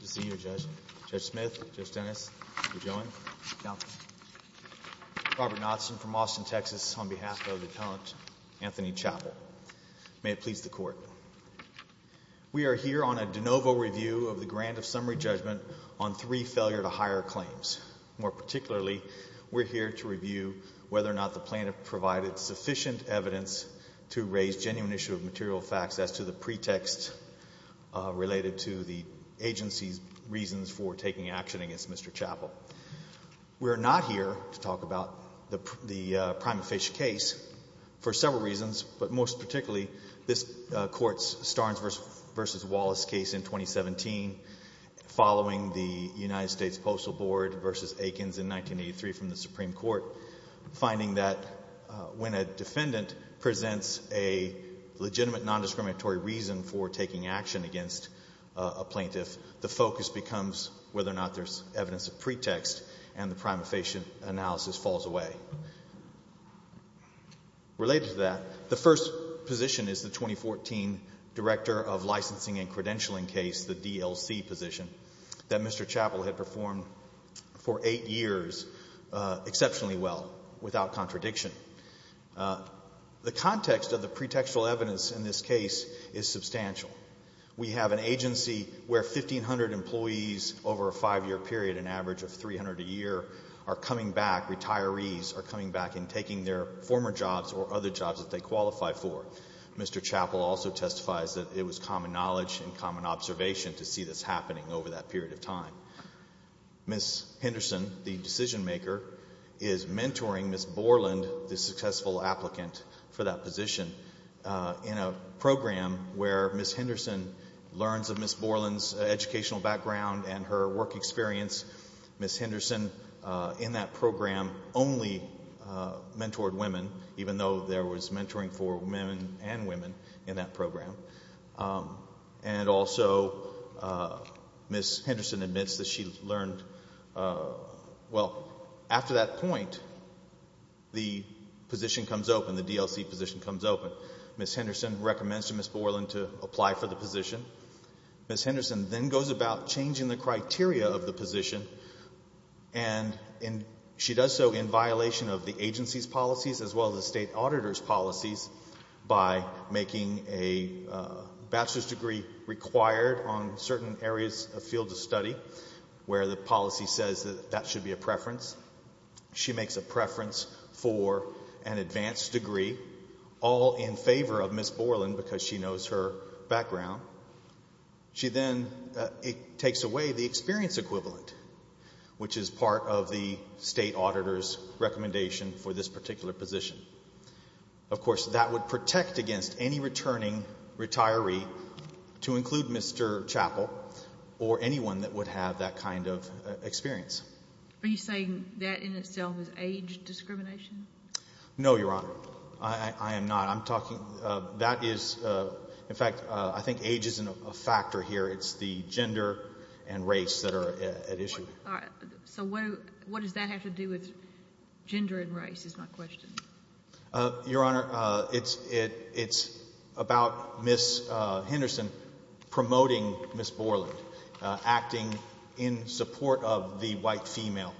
We are here on a de novo review of the Grant of Summary Judgment on three failure-to-hire claims. More particularly, we are here to review whether or not the plaintiff provided sufficient evidence to raise genuine issue of material facts as to the pretext related to the agency's reasons for taking action against Mr. Chapple. We are not here to talk about the Primate Fish case for several reasons, but most particularly this Court's Starnes v. Wallace case in 2017 following the United States Postal Board v. Aikens in 1983 from the Supreme Court, finding that when a defendant presents a legitimate nondiscriminatory reason for taking action against a plaintiff, the focus becomes whether or not there's evidence of pretext, and the prima facie analysis falls away. Related to that, the first position is the 2014 Director of Licensing and Credentialing case, the DLC position, that Mr. Chapple had performed for eight years exceptionally well without contradiction. The context of the pretextual evidence in this case is substantial. We have an agency where 1,500 employees over a five-year period, an average of 300 a year, are coming back, retirees are coming back and taking their former jobs or other jobs that they qualify for. Mr. Chapple also testifies that it was common knowledge and common observation to see this happening over that period of time. Ms. Henderson, the decisionmaker, is mentoring Ms. Borland, the successful applicant for that position, in a program where Ms. Henderson learns of Ms. Borland's educational background and her work experience. Ms. Henderson, in that program, only mentored women, even though there was mentoring for men and women in that program. And also, Ms. Henderson admits that she learned, well, after that point, the position comes open, the DLC position comes open. Ms. Henderson recommends to Ms. Borland to apply for the position. Ms. Henderson then goes about changing the criteria of the position and she does so in violation of the agency's policies as well as the state auditor's policies by making a bachelor's degree required on certain areas of field of study where the policy says that that should be a preference. She makes a preference for an advanced degree, all in favor of Ms. Borland because she knows her background. She then takes away the experience equivalent, which is part of the state auditor's recommendation for this particular position. Of course, that would protect against any returning retiree, to include Mr. Chappell or anyone that would have that kind of experience. Are you saying that in itself is age discrimination? No, Your Honor. I am not. I'm talking, that is, in fact, I think age isn't a factor here. It's the gender and race that are at issue. So what does that have to do with gender and race is my question. Your Honor, it's about Ms. Henderson promoting Ms. Borland, acting in support of the white female.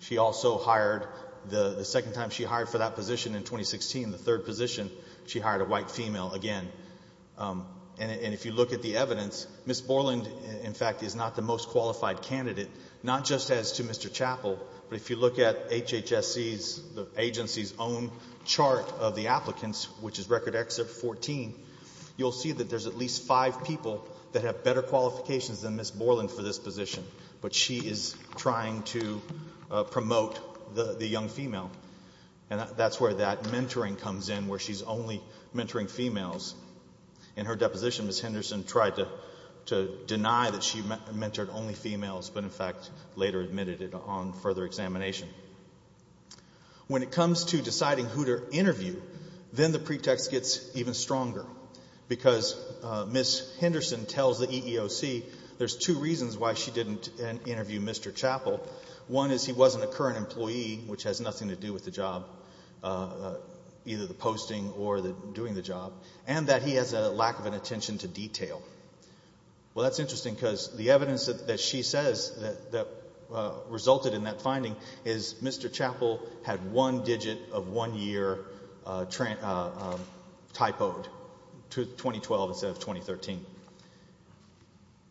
She also hired, the second time she hired for that position in 2016, the third position, she hired a white female again. And if you look at the evidence, Ms. Borland, in fact, is not the most qualified candidate, not just as to Mr. Chappell, but if you look at HHSC's, the agency's own chart of the applicants, which is Record Exit 14, you'll see that there's at least five people that have better qualifications than Ms. Borland for this position. But she is trying to promote the young female. And that's where that mentoring comes in, where she's only mentoring females. In her deposition, Ms. Henderson tried to deny that she mentored only females, but in fact later admitted it on further examination. When it comes to deciding who to interview, then the pretext gets even stronger. Because Ms. Henderson tells the EEOC there's two reasons why she didn't interview Mr. Chappell. One is he wasn't a current employee, which has nothing to do with the job, either the posting or doing the job, and that he has a lack of an attention to detail. Well, that's interesting because the evidence that she says that resulted in that finding is Mr. Chappell had one digit of one year typoed, 2012 instead of 2013.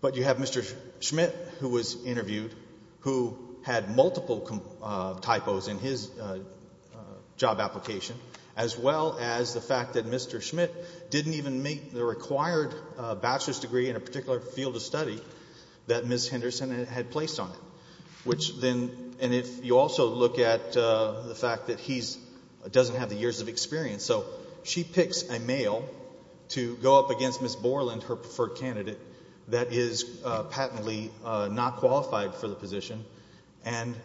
But you have Mr. Schmidt, who was interviewed, who had multiple typos in his job application, as well as the fact that Mr. Schmidt didn't even meet the required bachelor's degree in a particular field of study that Ms. Henderson had placed on it. Which then, and if you also look at the fact that he doesn't have the years of experience, so she picks a male to go up against Ms. Borland, her preferred candidate, that is patently not qualified for the position and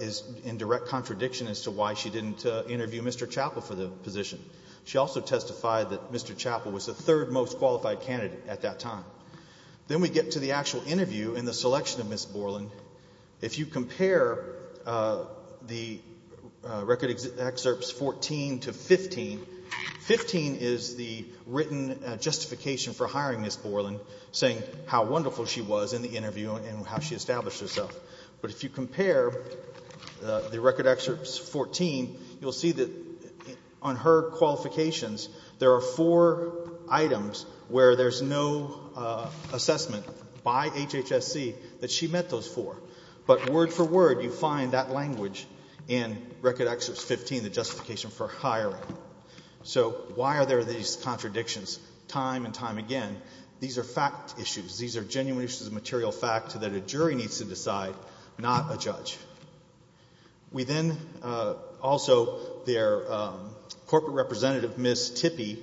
is in direct contradiction as to why she didn't interview Mr. Chappell for the position. She also testified that Mr. Chappell was the third most qualified candidate at that time. Then we get to the actual interview and the selection of Ms. Borland. If you compare the record excerpts 14 to 15, 15 is the written justification for hiring Ms. Borland, saying how wonderful she was in the interview and how she established herself. But if you compare the record excerpts 14, you'll see that on her qualifications, there are four items where there's no assessment by HHSC that she met those four. But word for word, you find that language in record excerpts 15, the justification for hiring. So why are there these contradictions time and time again? These are fact issues. These are genuine issues of material fact that a jury needs to decide, not a judge. We then also, their corporate representative, Ms. Tippie,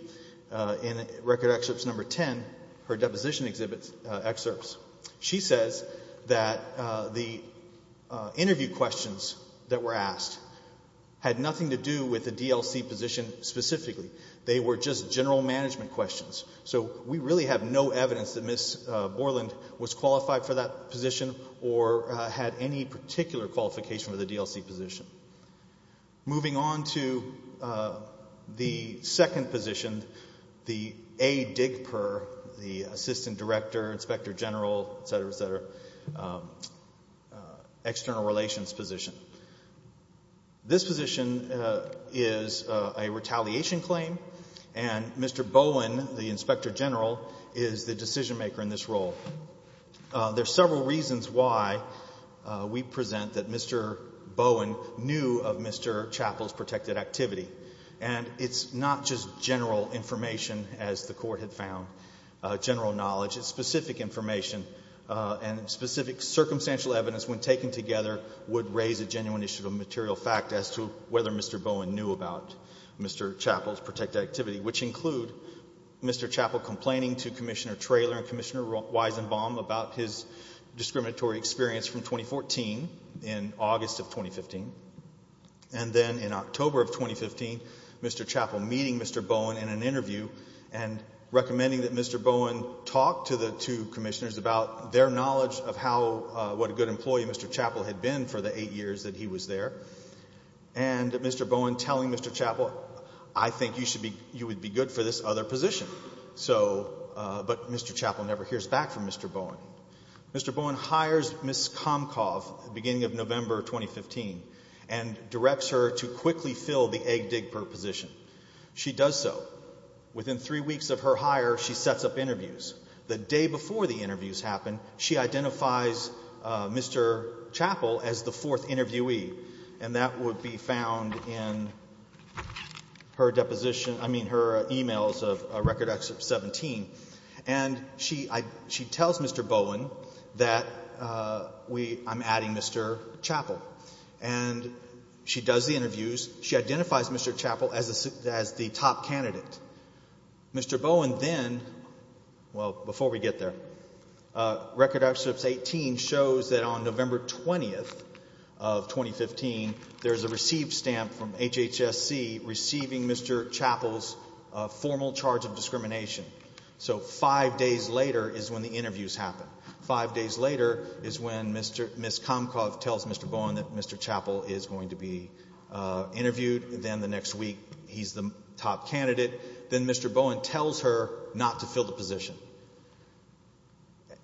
in record excerpts number 10, her deposition excerpts, she says that the interview questions that were asked had nothing to do with the DLC position specifically. They were just general management questions. So we really have no evidence that Ms. Borland was qualified for that position or had any particular qualification for the DLC position. Moving on to the second position, the A. Digper, the assistant director, inspector general, et cetera, et cetera, external relations position. This position is a retaliation claim, and Mr. Bowen, the inspector general, is the decision maker in this role. There are several reasons why we present that Mr. Bowen knew of Mr. Chappell's protected activity. And it's not just general information, as the Court had found, general knowledge. It's specific information, and specific circumstantial evidence, when taken together, would raise a genuine issue of material fact as to whether Mr. Bowen knew about Mr. Chappell's protected activity, which include Mr. Chappell complaining to Commissioner Traylor and Commissioner Weizenbaum about his discriminatory experience from 2014 in August of 2015. And then in October of 2015, Mr. Chappell meeting Mr. Bowen in an interview and recommending that Mr. Bowen talk to the two commissioners about their knowledge of how, what a good employee Mr. Chappell had been for the eight years that he was there. And Mr. Bowen telling Mr. Chappell, I think you should be, you would be good for this other position. So, but Mr. Chappell never hears back from Mr. Bowen. Mr. Bowen hires Ms. Komkoff at the beginning of November 2015, and directs her to quickly fill the egg dig position. She does so. Within three weeks of her hire, she sets up interviews. The day before the interviews happen, she identifies Mr. Chappell as the fourth interviewee. And that would be found in her deposition, I mean, her emails of Record Excerpt 17. And she, I, she tells Mr. Bowen that we, I'm adding Mr. Chappell. And she does the interviews. She identifies Mr. Chappell as the top candidate. Mr. Bowen then, well, before we get there, Record Excerpt 18 shows that on November 20th of 2015, there's a received stamp from HHSC receiving Mr. Chappell's formal charge of discrimination. So, five days later is when the interviews happen. Five days later is when Ms. Komkoff tells Mr. Bowen that Mr. Chappell is going to be interviewed. Then the next week, he's the top candidate. Then Mr. Bowen tells her not to fill the position.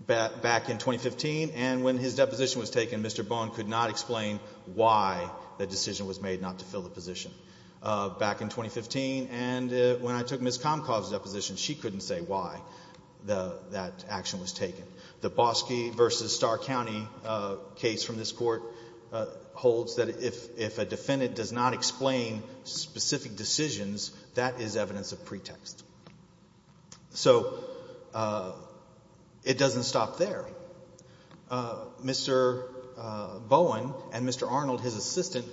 Back in 2015, and when his deposition was taken, Mr. Bowen could not explain why the decision was made not to fill the position. Back in 2015, and when I took Ms. Komkoff's deposition, she couldn't say why that action was taken. The Boski v. Starr County case from this Court holds that if a defendant does not explain specific decisions, that is evidence of pretext. So it doesn't stop there. Mr. Bowen and Mr. Arnold, his assistant,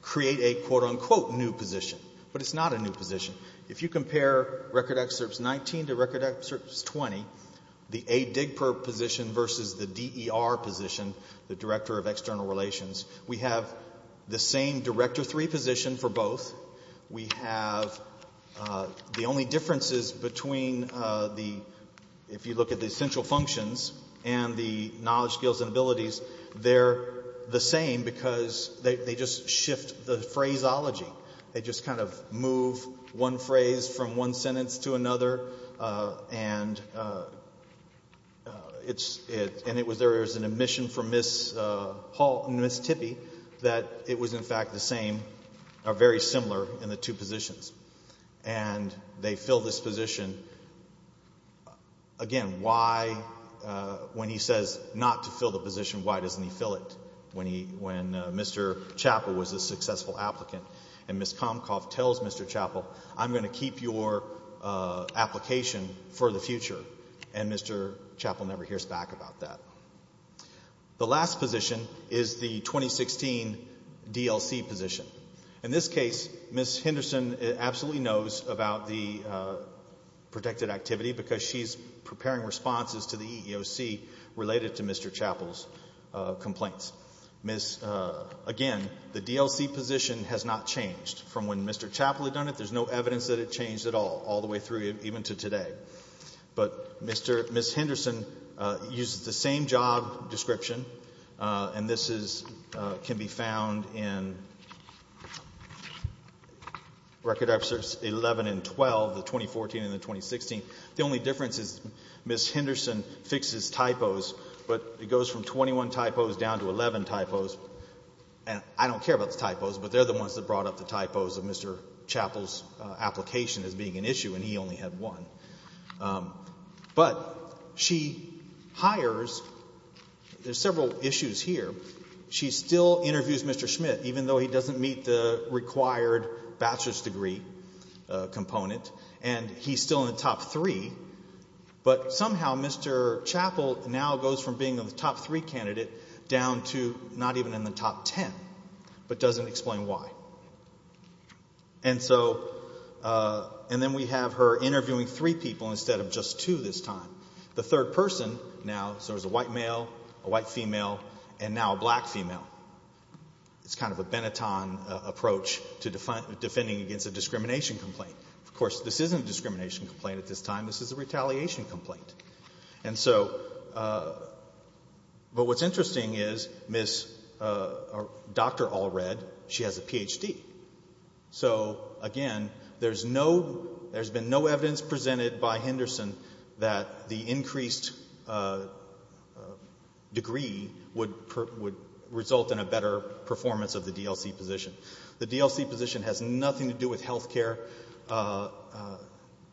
create a quote-unquote new position. But it's not a new position. If you compare Record Excerpts 19 to Record Excerpts 20, the A. Digpur position versus the D.E.R. position, the Director of External Relations, we have the same Director III position for both. We have the only differences between the, if you look at the essential functions and the knowledge, skills, and abilities, they're the same because they just shift the phraseology. They just kind of move one phrase from one sentence to another, and it's, and it was there as an admission from Ms. Hall, Ms. Tippie, that it was in fact the same, or very similar in the two positions. And they fill this position, again, why, when he says not to fill the position, why doesn't he fill it when he, when Mr. Chappell was a successful applicant? And Ms. Comcoff tells Mr. Chappell, I'm going to keep your application for the future. And Mr. Chappell never hears back about that. The last position is the 2016 D.L.C. position. In this case, Ms. Henderson absolutely knows about the protected activity because she's preparing responses to the EEOC related to Mr. Chappell's complaints. Ms., again, the D.L.C. position has not changed from when Mr. Chappell had done it. There's no evidence that it changed at all, all the way through even to today. But Mr., Ms. Henderson uses the same job description, and this is, can be found in Record Episodes 11 and 12, the 2014 and the 2016. The only difference is Ms. Henderson fixes typos, but it goes from 21 typos down to 11 typos. And I don't care about the typos, but they're the ones that brought up the typos of Mr. Chappell's application as being an issue, and he only had one. But she hires, there's several issues here. She still interviews Mr. Schmidt, even though he doesn't meet the required bachelor's degree component, and he's still in the top three. But somehow Mr. Chappell now goes from being in the top three candidate down to not even in the top ten, but doesn't explain why. And so, and then we have her interviewing three people instead of just two this time. The third person now, so there's a white male, a white female, and now a black female. It's kind of a Benetton approach to defending against a discrimination complaint. Of course, this isn't a discrimination complaint at this time. This is a retaliation complaint. And so, but what's interesting is Ms. Dr. Allred, she has a Ph.D. So again, there's no, there's been no evidence presented by Henderson that the increased degree would result in a better performance of the DLC position. The DLC position has nothing to do with healthcare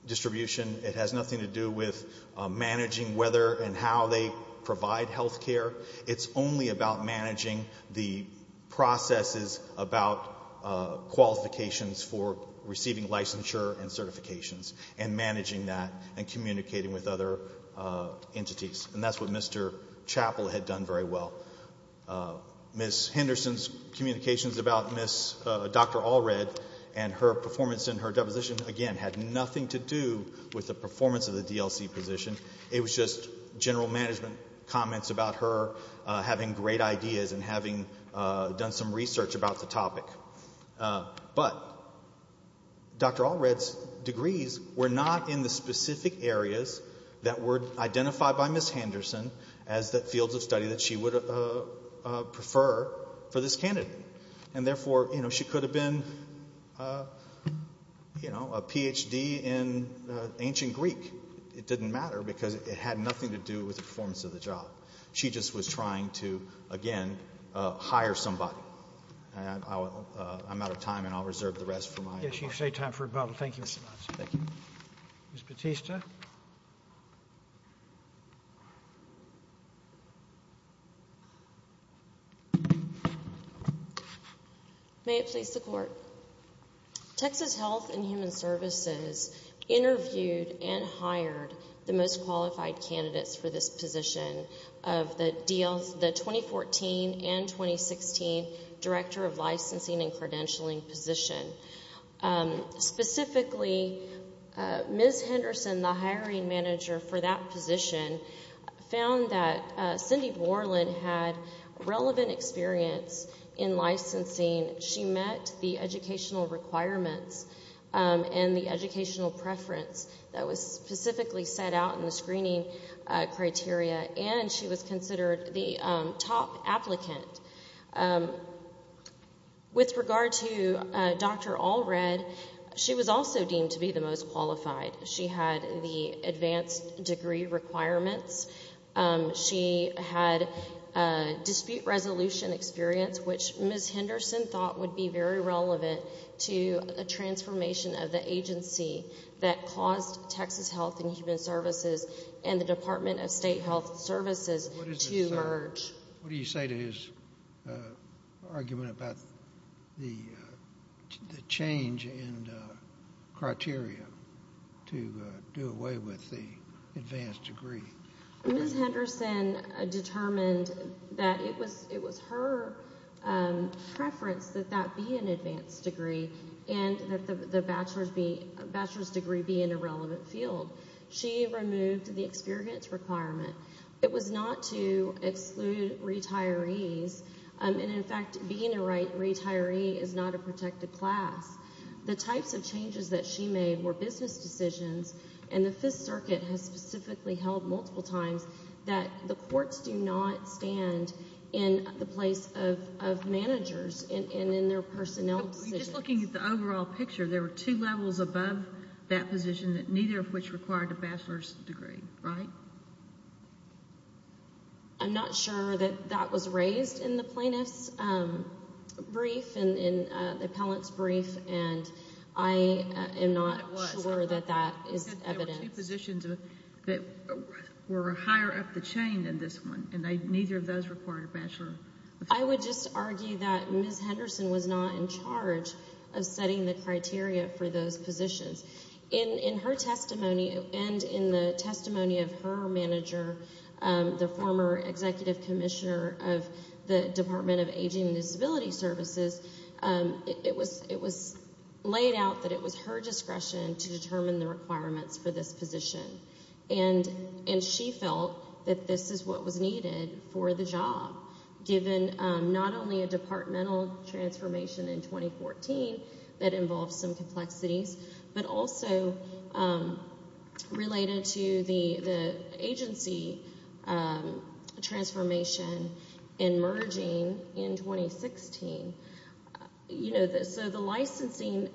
distribution. It has nothing to do with managing whether and how they provide healthcare. It's only about managing the processes about qualifications for receiving licensure and entities. And that's what Mr. Chappell had done very well. Ms. Henderson's communications about Ms. Dr. Allred and her performance in her deposition again had nothing to do with the performance of the DLC position. It was just general management comments about her having great ideas and having done some research about the topic. But Dr. Allred's degrees were not in the specific areas that were identified by Ms. Henderson as the fields of study that she would prefer for this candidate. And therefore, you know, she could have been, you know, a Ph.D. in ancient Greek. It didn't matter because it had nothing to do with the performance of the job. She just was trying to, again, hire somebody. I'm out of time and I'll reserve the rest for my remarks. Yes, you've saved time for rebuttal. Thank you so much. Thank you. Ms. Bautista. May it please the Court. Texas Health and Human Services interviewed and hired the most qualified candidates for this position of the 2014 and 2016 Director of Licensing and Credentialing position. Specifically, Ms. Henderson, the hiring manager for that position, found that Cindy Borland had relevant experience in licensing. She met the educational requirements and the educational preference that was specifically set out in the screening criteria, and she was considered the top applicant. With regard to Dr. Allred, she was also deemed to be the most qualified. She had the advanced degree requirements. She had dispute resolution experience, which Ms. Henderson thought would be very relevant to a transformation of the agency that caused Texas Health and Human Services and the Department of State Health Services to merge. What do you say to his argument about the change in criteria to do away with the advanced degree? Ms. Henderson determined that it was her preference that that be an advanced degree and that the bachelor's degree be in a relevant field. She removed the experience requirement. It was not to exclude retirees, and in fact, being a retiree is not a protected class. The types of changes that she made were business decisions, and the Fifth Circuit has specifically held multiple times that the courts do not stand in the place of managers and in their personnel decisions. Just looking at the overall picture, there were two levels above that position that neither of which required a bachelor's degree, right? I'm not sure that that was raised in the plaintiff's brief and in the appellant's brief, and I am not sure that that is evidence. There were two positions that were higher up the chain than this one, and neither of those required a bachelor's degree. I would just argue that Ms. Henderson was not in charge of setting the criteria for those positions. In her testimony and in the testimony of her manager, the former executive commissioner of the Department of Aging and Disability Services, it was laid out that it was her discretion to determine the requirements for this position, and she felt that this is what was needed for the job, given not only a departmental transformation in 2014 that involved some complexities, but also related to the agency transformation and merging in 2016. So the licensing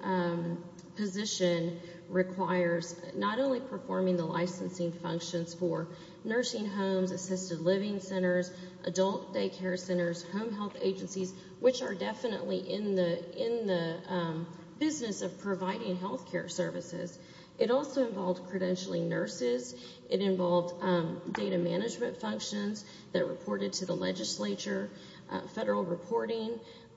position requires not only performing the licensing functions for nursing homes, assisted living centers, adult daycare centers, home health agencies, which are definitely in the business of providing health care services. It also involved credentialing nurses. It involved data management functions that reported to the legislature, federal reporting,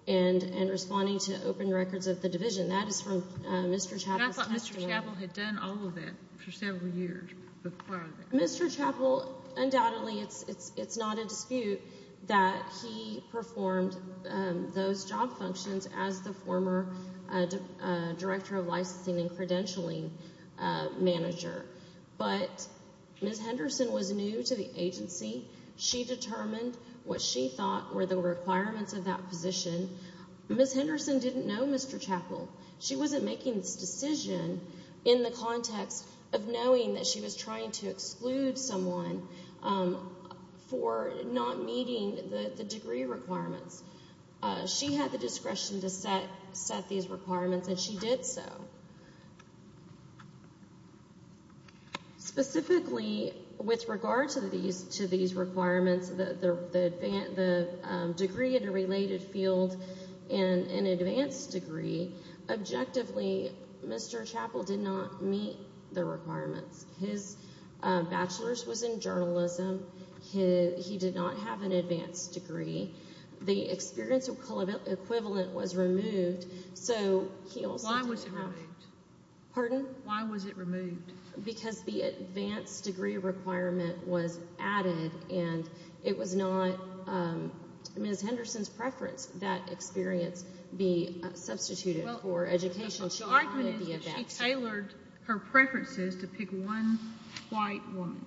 and responding to open records of the division. That is from Mr. Chappell's testimony. I thought Mr. Chappell had done all of that for several years before that. Mr. Chappell, undoubtedly, it's not a dispute that he performed those job functions as the Ms. Henderson was new to the agency. She determined what she thought were the requirements of that position. Ms. Henderson didn't know Mr. Chappell. She wasn't making this decision in the context of knowing that she was trying to exclude someone for not meeting the degree requirements. She had the discretion to set these requirements, and she did so. Specifically, with regard to these requirements, the degree in a related field and an advanced degree, objectively, Mr. Chappell did not meet the requirements. His bachelor's was in journalism. He did not have an advanced degree. The experience equivalent was removed, so he also didn't have... Why was it removed? Pardon? Why was it removed? Because the advanced degree requirement was added, and it was not Ms. Henderson's preference that experience be substituted for education. The argument is that she tailored her preferences to pick one white woman.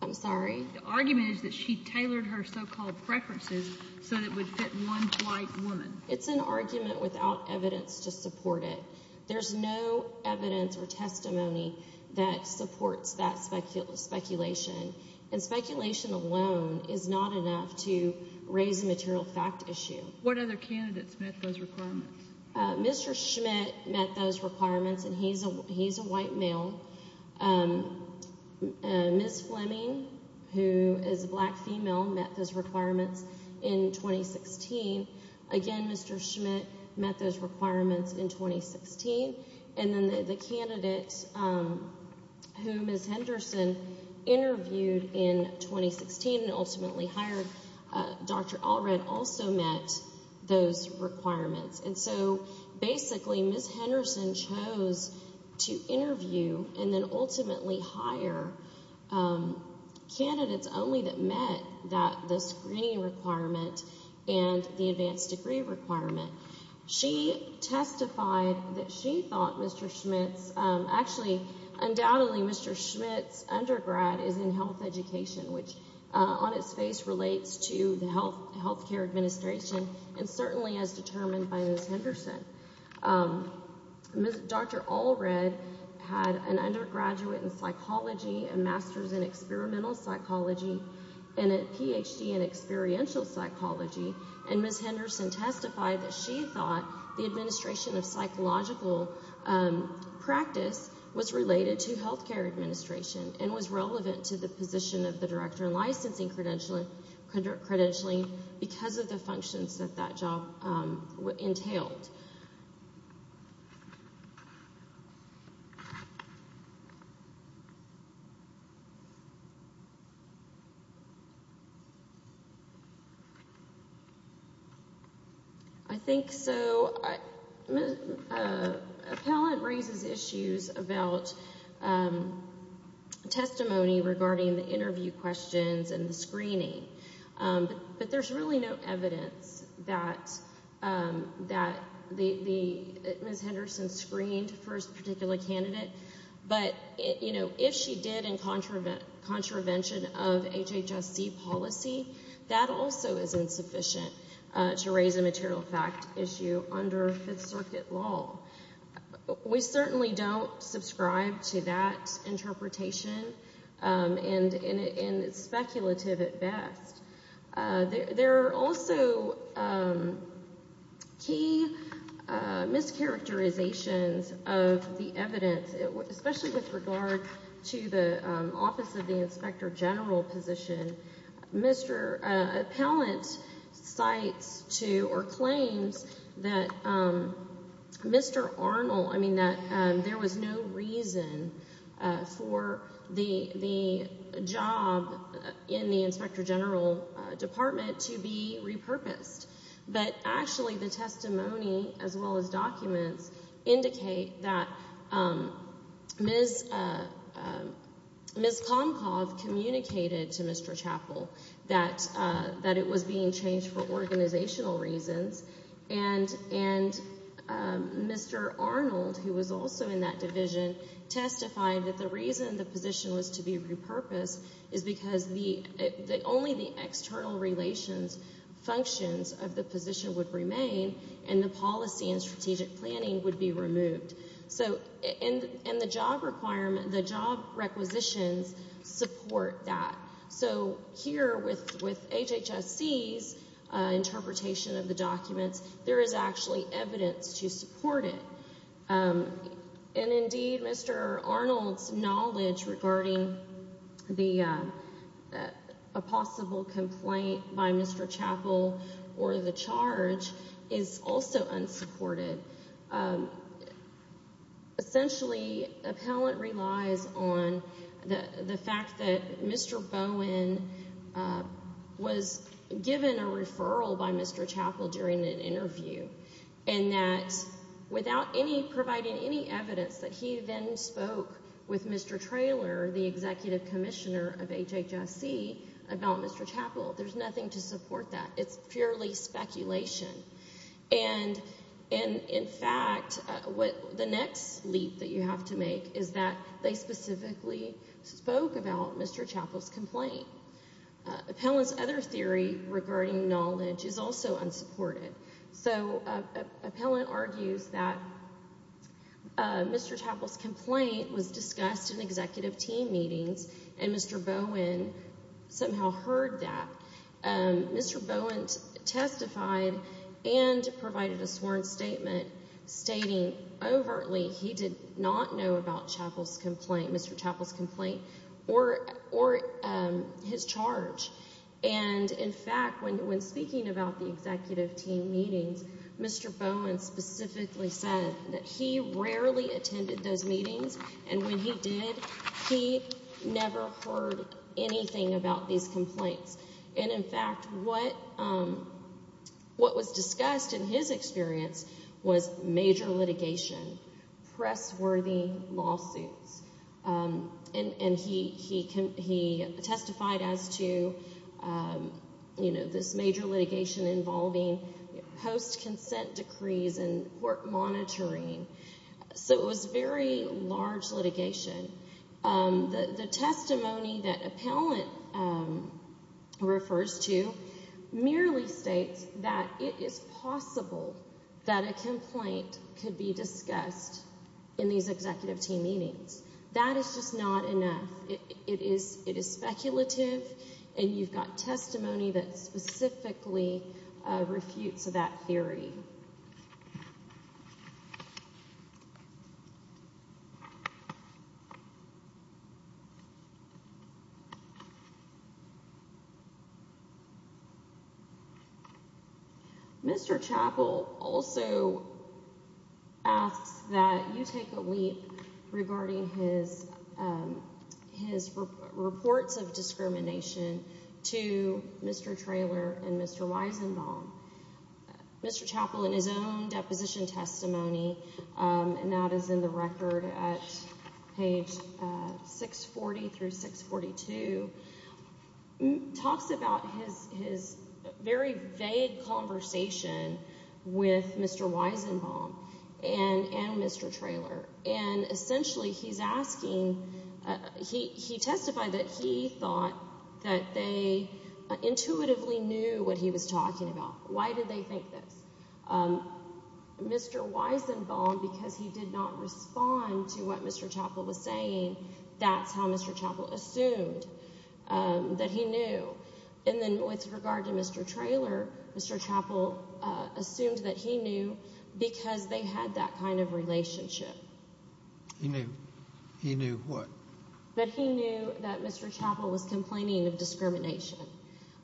I'm sorry? The argument is that she tailored her so-called preferences so that it would fit one white woman. It's an argument without evidence to support it. There's no evidence or testimony that supports that speculation, and speculation alone is not enough to raise a material fact issue. What other candidates met those requirements? Mr. Schmidt met those requirements, and he's a white male. Ms. Fleming, who is a black female, met those requirements in 2016. Again, Mr. Schmidt met those requirements in 2016. And then the candidate who Ms. Henderson interviewed in 2016 and ultimately hired, Dr. Allred, also met those requirements. And so, basically, Ms. Henderson chose to interview and then ultimately hire candidates only that met the screening requirement and the advanced degree requirement. She testified that she thought Mr. Schmidt's... Actually, undoubtedly, Mr. Schmidt's undergrad is in health education, which on its face relates to the healthcare administration, and certainly as determined by Ms. Henderson. Dr. Allred had an undergraduate in psychology, a master's in experimental psychology, and a Ph.D. in experiential psychology, and Ms. Henderson testified that she thought the administration of psychological practice was related to healthcare administration and was relevant to the position of the director in licensing credentialing because of the functions that that job entailed. And I think, so, appellant raises issues about testimony regarding the interview questions But there's really no evidence that Ms. Henderson screened for a particular candidate, but if she did in contravention of HHSC policy, that also is insufficient to raise a material fact issue under Fifth Circuit law. We certainly don't subscribe to that interpretation, and it's speculative at best. There are also key mischaracterizations of the evidence, especially with regard to the Mr. Arnold, I mean, there was no reason for the job in the Inspector General Department to be repurposed, but actually the testimony, as well as documents, indicate that Ms. Komkoff communicated to Mr. Chappell that it was being changed for organizational reasons, and Mr. Arnold, who was also in that division, testified that the reason the position was to be repurposed is because only the external relations functions of the position would remain and the policy and strategic planning would be removed. So, and the job requirement, the job requisitions support that. So, here with HHSC's interpretation of the documents, there is actually evidence to support it. And indeed, Mr. Arnold's knowledge regarding a possible complaint by Mr. Chappell or the essentially, appellant relies on the fact that Mr. Bowen was given a referral by Mr. Chappell during an interview, and that without providing any evidence that he then spoke with Mr. Traylor, the executive commissioner of HHSC, about Mr. Chappell, there's nothing to support that. It's purely speculation. And in fact, the next leap that you have to make is that they specifically spoke about Mr. Chappell's complaint. Appellant's other theory regarding knowledge is also unsupported. So, appellant argues that Mr. Chappell's complaint was discussed in executive team meetings, and Mr. Bowen somehow heard that. Mr. Bowen testified and provided a sworn statement stating overtly he did not know about Mr. Chappell's complaint or his charge. And in fact, when speaking about the executive team meetings, Mr. Bowen specifically said that he rarely attended those meetings, and when he did, he never heard anything about these complaints. And in fact, what was discussed in his experience was major litigation, press-worthy lawsuits. And he testified as to, you know, this major litigation involving post-consent decrees and court monitoring. So, it was very large litigation. The testimony that appellant refers to merely states that it is possible that a complaint could be discussed in these executive team meetings. That is just not enough. It is speculative, and you've got testimony that specifically refutes that theory. Mr. Chappell also asks that you take a leap regarding his reports of discrimination to Mr. Traylor and Mr. Weizenbaum. Mr. Chappell, in his own deposition testimony, and that is in the record at page 640 through 642, talks about his very vague conversation with Mr. Weizenbaum and Mr. Traylor. And essentially, he's asking, he testified that he thought that they intuitively knew what he was talking about. Why did they think this? Mr. Weizenbaum, because he did not respond to what Mr. Chappell was saying, that's how Mr. Chappell assumed that he knew. And then with regard to Mr. Traylor, Mr. Chappell assumed that he knew because they had that kind of relationship. He knew. He knew what? That he knew that Mr. Chappell was complaining of discrimination.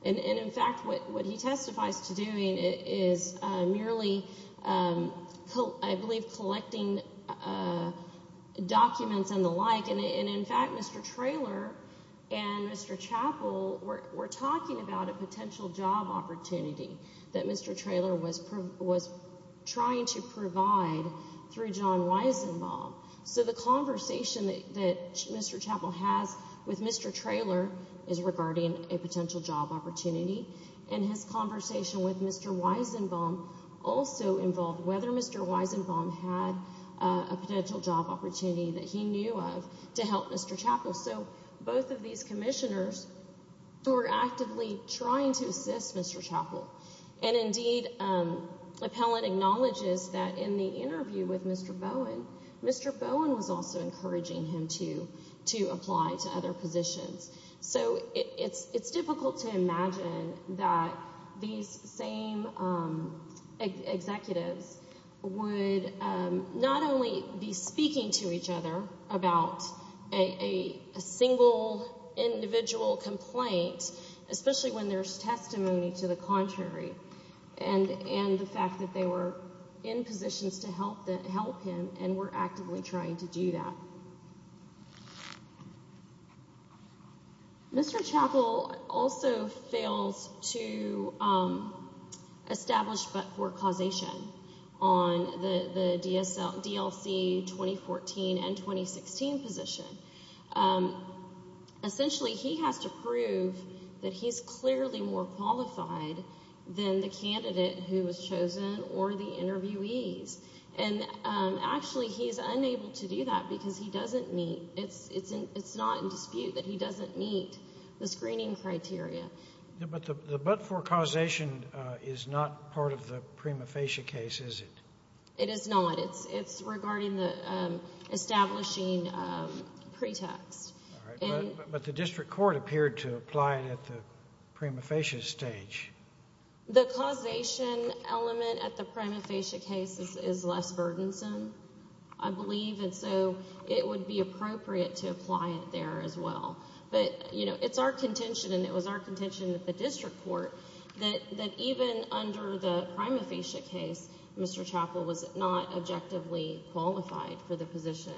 And in fact, what he testifies to doing is merely, I believe, collecting documents and the like. And in fact, Mr. Traylor and Mr. Chappell were talking about a potential job opportunity that Mr. Traylor was trying to provide through John Weizenbaum. So the conversation that Mr. Chappell has with Mr. Traylor is regarding a potential job opportunity. And his conversation with Mr. Weizenbaum also involved whether Mr. Weizenbaum had a potential job opportunity that he knew of to help Mr. Chappell. So both of these commissioners were actively trying to assist Mr. Chappell. And indeed, appellant acknowledges that in the interview with Mr. Bowen, Mr. Bowen was also encouraging him to apply to other positions. So it's difficult to imagine that these same executives would not only be speaking to each other about a single individual complaint, especially when there's testimony to the contrary, and the fact that they were in positions to help him and were actively trying to do that. Mr. Chappell also fails to establish but for causation on the DLC 2014 and 2016 position. Essentially, he has to prove that he's clearly more qualified than the candidate who was chosen or the interviewees. And actually, he's unable to do that because he doesn't meet, it's not in dispute that he doesn't meet the screening criteria. But the but for causation is not part of the prima facie case, is it? It is not. It's regarding the establishing pretext. But the district court appeared to apply it at the prima facie stage. The causation element at the prima facie case is less burdensome, I believe. And so it would be appropriate to apply it there as well. But, you know, it's our contention and it was our contention at the district court that even under the prima facie case, Mr. Chappell was not objectively qualified for the position.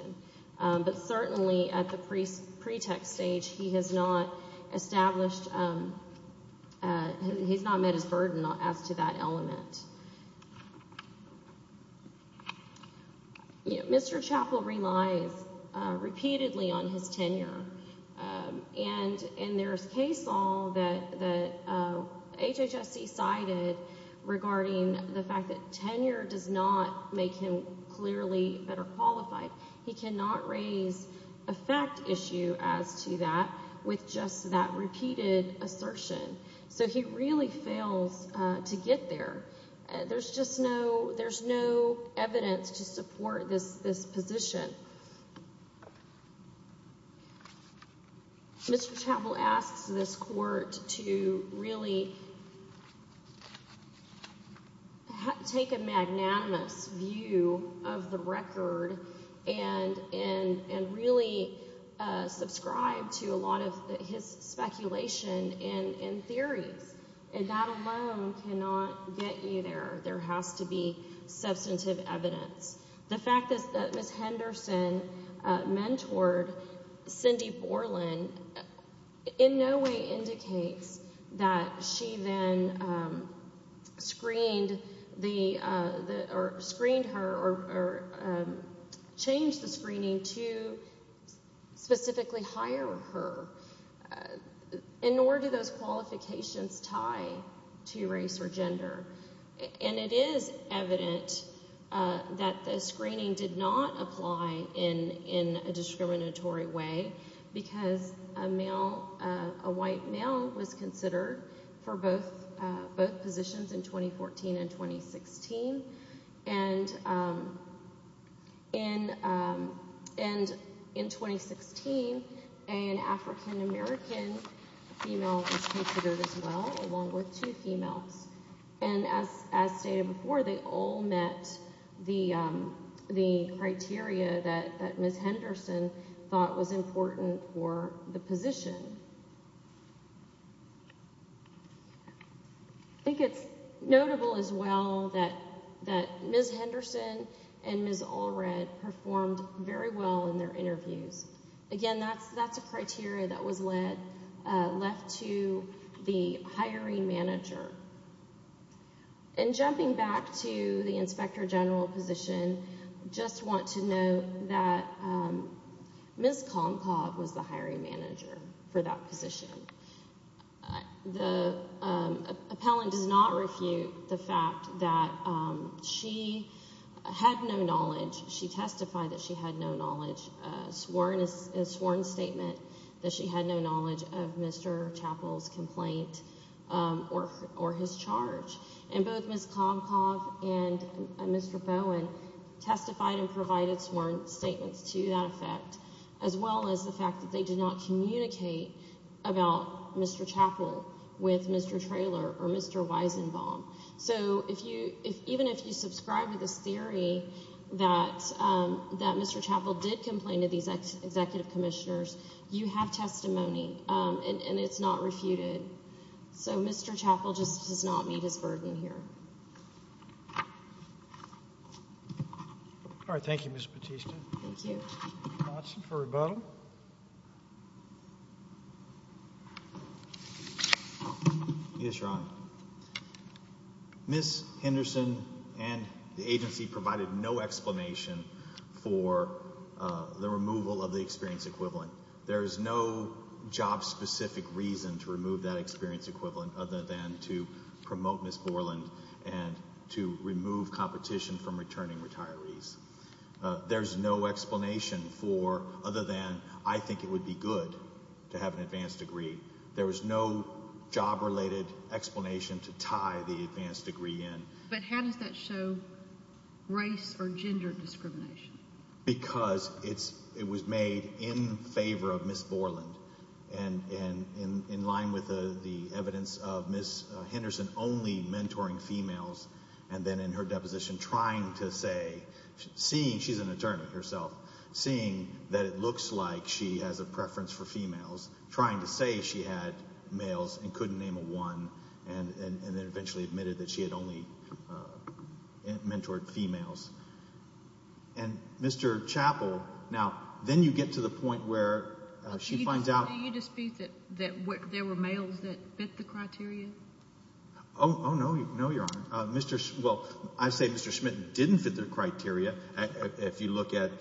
But certainly at the pretext stage, he has not established, he's not met his burden as to that element. Mr. Chappell relies repeatedly on his tenure. And there's case law that HHSC cited regarding the fact that tenure does not make him clearly better qualified. He cannot raise a fact issue as to that with just that repeated assertion. So he really fails to get there. There's just no there's no evidence to support this position. Mr. Chappell asks this court to really take a magnanimous view of the record and really subscribe to a lot of his speculation and theories. And that alone cannot get you there. There has to be substantive evidence. The fact that Ms. Henderson mentored Cindy Borland in no way indicates that she then screened the or screened her or changed the screening to specifically hire her. And nor do those qualifications tie to race or gender. And it is evident that the screening did not apply in a discriminatory way because a male, a white male was considered for both positions in 2014 and 2016. And in 2016, an African-American female was considered as well along with two females. And as stated before, they all met the criteria that Ms. Henderson thought was important for the position. I think it's notable as well that Ms. Henderson and Ms. Allred performed very well in their interviews. Again, that's a criteria that was left to the hiring manager. And jumping back to the inspector general position, I just want to note that Ms. Konkov was the hiring manager for that position. The appellant does not refute the fact that she had no knowledge. She testified that she had no knowledge, a sworn statement that she had no knowledge of Mr. Chappell's complaint or his charge. And both Ms. Konkov and Mr. Bowen testified and provided sworn statements to that effect, as well as the fact that they did not communicate about Mr. Chappell with Mr. Traylor or Mr. Weizenbaum. So even if you subscribe to this theory that Mr. Chappell did complain to these executive commissioners, you have testimony, and it's not refuted. So Mr. Chappell just does not meet his burden here. All right. Thank you, Ms. Bautista. Thank you. Watson for rebuttal. Yes, Your Honor. Ms. Henderson and the agency provided no explanation for the removal of the experience equivalent. There is no job-specific reason to remove that experience equivalent other than to promote Ms. Borland and to remove competition from returning retirees. There's no explanation for other than I think it would be good to have an advanced degree. There was no job-related explanation to tie the advanced degree in. But how does that show race or gender discrimination? Because it was made in favor of Ms. Borland and in line with the evidence of Ms. Henderson only mentoring females and then in her deposition trying to say, seeing she's an attorney herself, seeing that it looks like she has a preference for females, trying to say she had males and couldn't name a one, and then eventually admitted that she had only mentored females. And Mr. Chappell, now, then you get to the point where she finds out— Do you dispute that there were males that fit the criteria? Oh, no, Your Honor. Well, I say Mr. Schmidt didn't fit the criteria. If you look at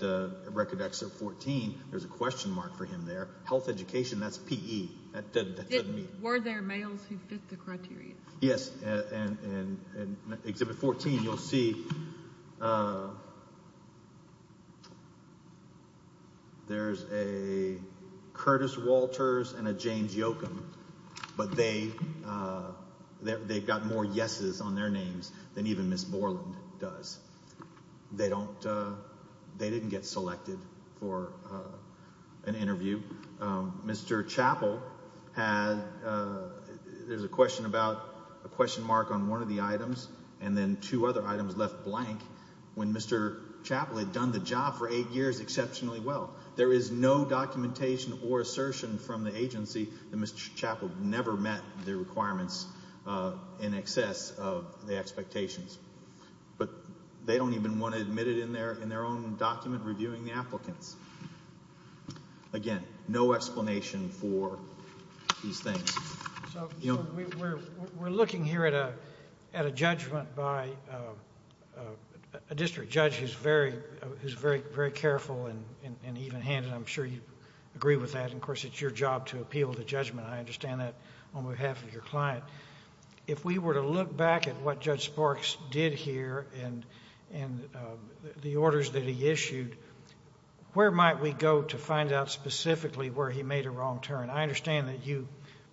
Record Excerpt 14, there's a question mark for him there. Health education, that's PE. Were there males who fit the criteria? Yes, and in Exhibit 14 you'll see there's a Curtis Walters and a James Yocum, but they've got more yeses on their names than even Ms. Borland does. They didn't get selected for an interview. Mr. Chappell had—there's a question mark on one of the items and then two other items left blank when Mr. Chappell had done the job for eight years exceptionally well. There is no documentation or assertion from the agency that Mr. Chappell never met the requirements in excess of the expectations. But they don't even want to admit it in their own document reviewing the applicants. Again, no explanation for these things. We're looking here at a judgment by a district judge who's very careful and even-handed. I'm sure you agree with that. Of course, it's your job to appeal the judgment. I understand that on behalf of your client. If we were to look back at what Judge Sparks did here and the orders that he issued, where might we go to find out specifically where he made a wrong turn? I understand that you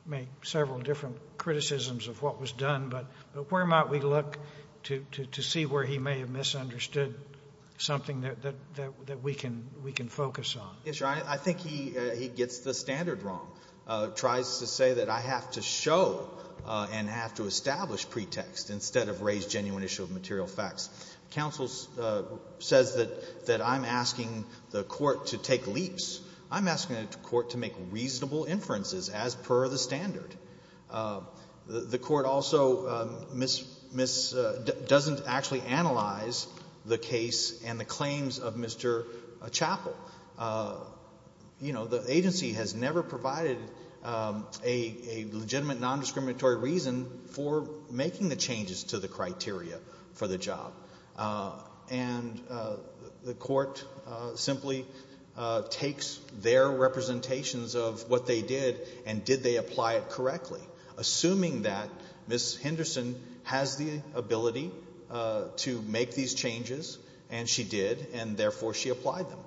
make several different criticisms of what was done, but where might we look to see where he may have misunderstood something that we can focus on? Yes, Your Honor. I think he gets the standard wrong. He tries to say that I have to show and have to establish pretext instead of raise genuine issue of material facts. Counsel says that I'm asking the court to take leaps. I'm asking the court to make reasonable inferences as per the standard. The court also doesn't actually analyze the case and the claims of Mr. Chappell. The agency has never provided a legitimate nondiscriminatory reason for making the changes to the criteria for the job. And the court simply takes their representations of what they did and did they apply it correctly, assuming that Ms. Henderson has the ability to make these changes, and she did, and therefore she applied them.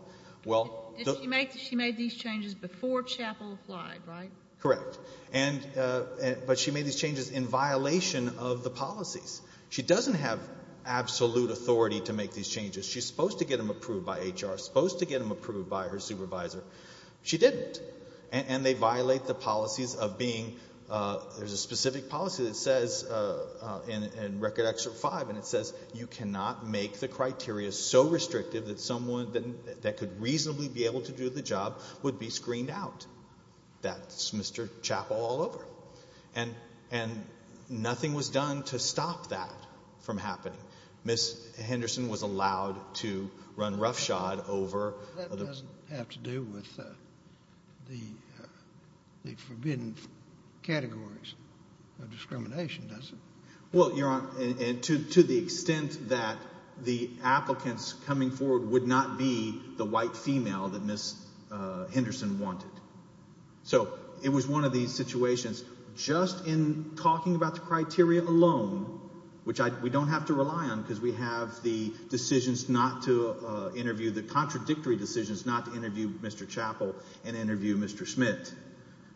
She made these changes before Chappell applied, right? Correct. But she made these changes in violation of the policies. She doesn't have absolute authority to make these changes. She's supposed to get them approved by HR, supposed to get them approved by her supervisor. She didn't. And they violate the policies of being – there's a specific policy that says in Record Action 5, and it says you cannot make the criteria so restrictive that someone that could reasonably be able to do the job would be screened out. That's Mr. Chappell all over. And nothing was done to stop that from happening. Ms. Henderson was allowed to run roughshod over – That doesn't have to do with the forbidden categories of discrimination, does it? Well, Your Honor, and to the extent that the applicants coming forward would not be the white female that Ms. Henderson wanted. So it was one of these situations just in talking about the criteria alone, which we don't have to rely on because we have the decisions not to interview – the contradictory decisions not to interview Mr. Chappell and interview Mr. Schmidt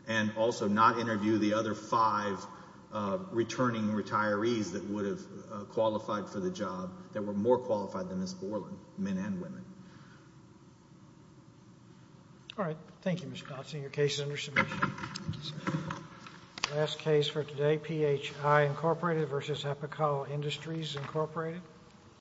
and also not interview the other five returning retirees that would have qualified for the job that were more qualified than Ms. Borland, men and women. All right. Thank you, Mr. Thompson. Your case is under submission. Thank you, sir. Last case for today, PHI, Incorporated v. Epical Industries, Incorporated.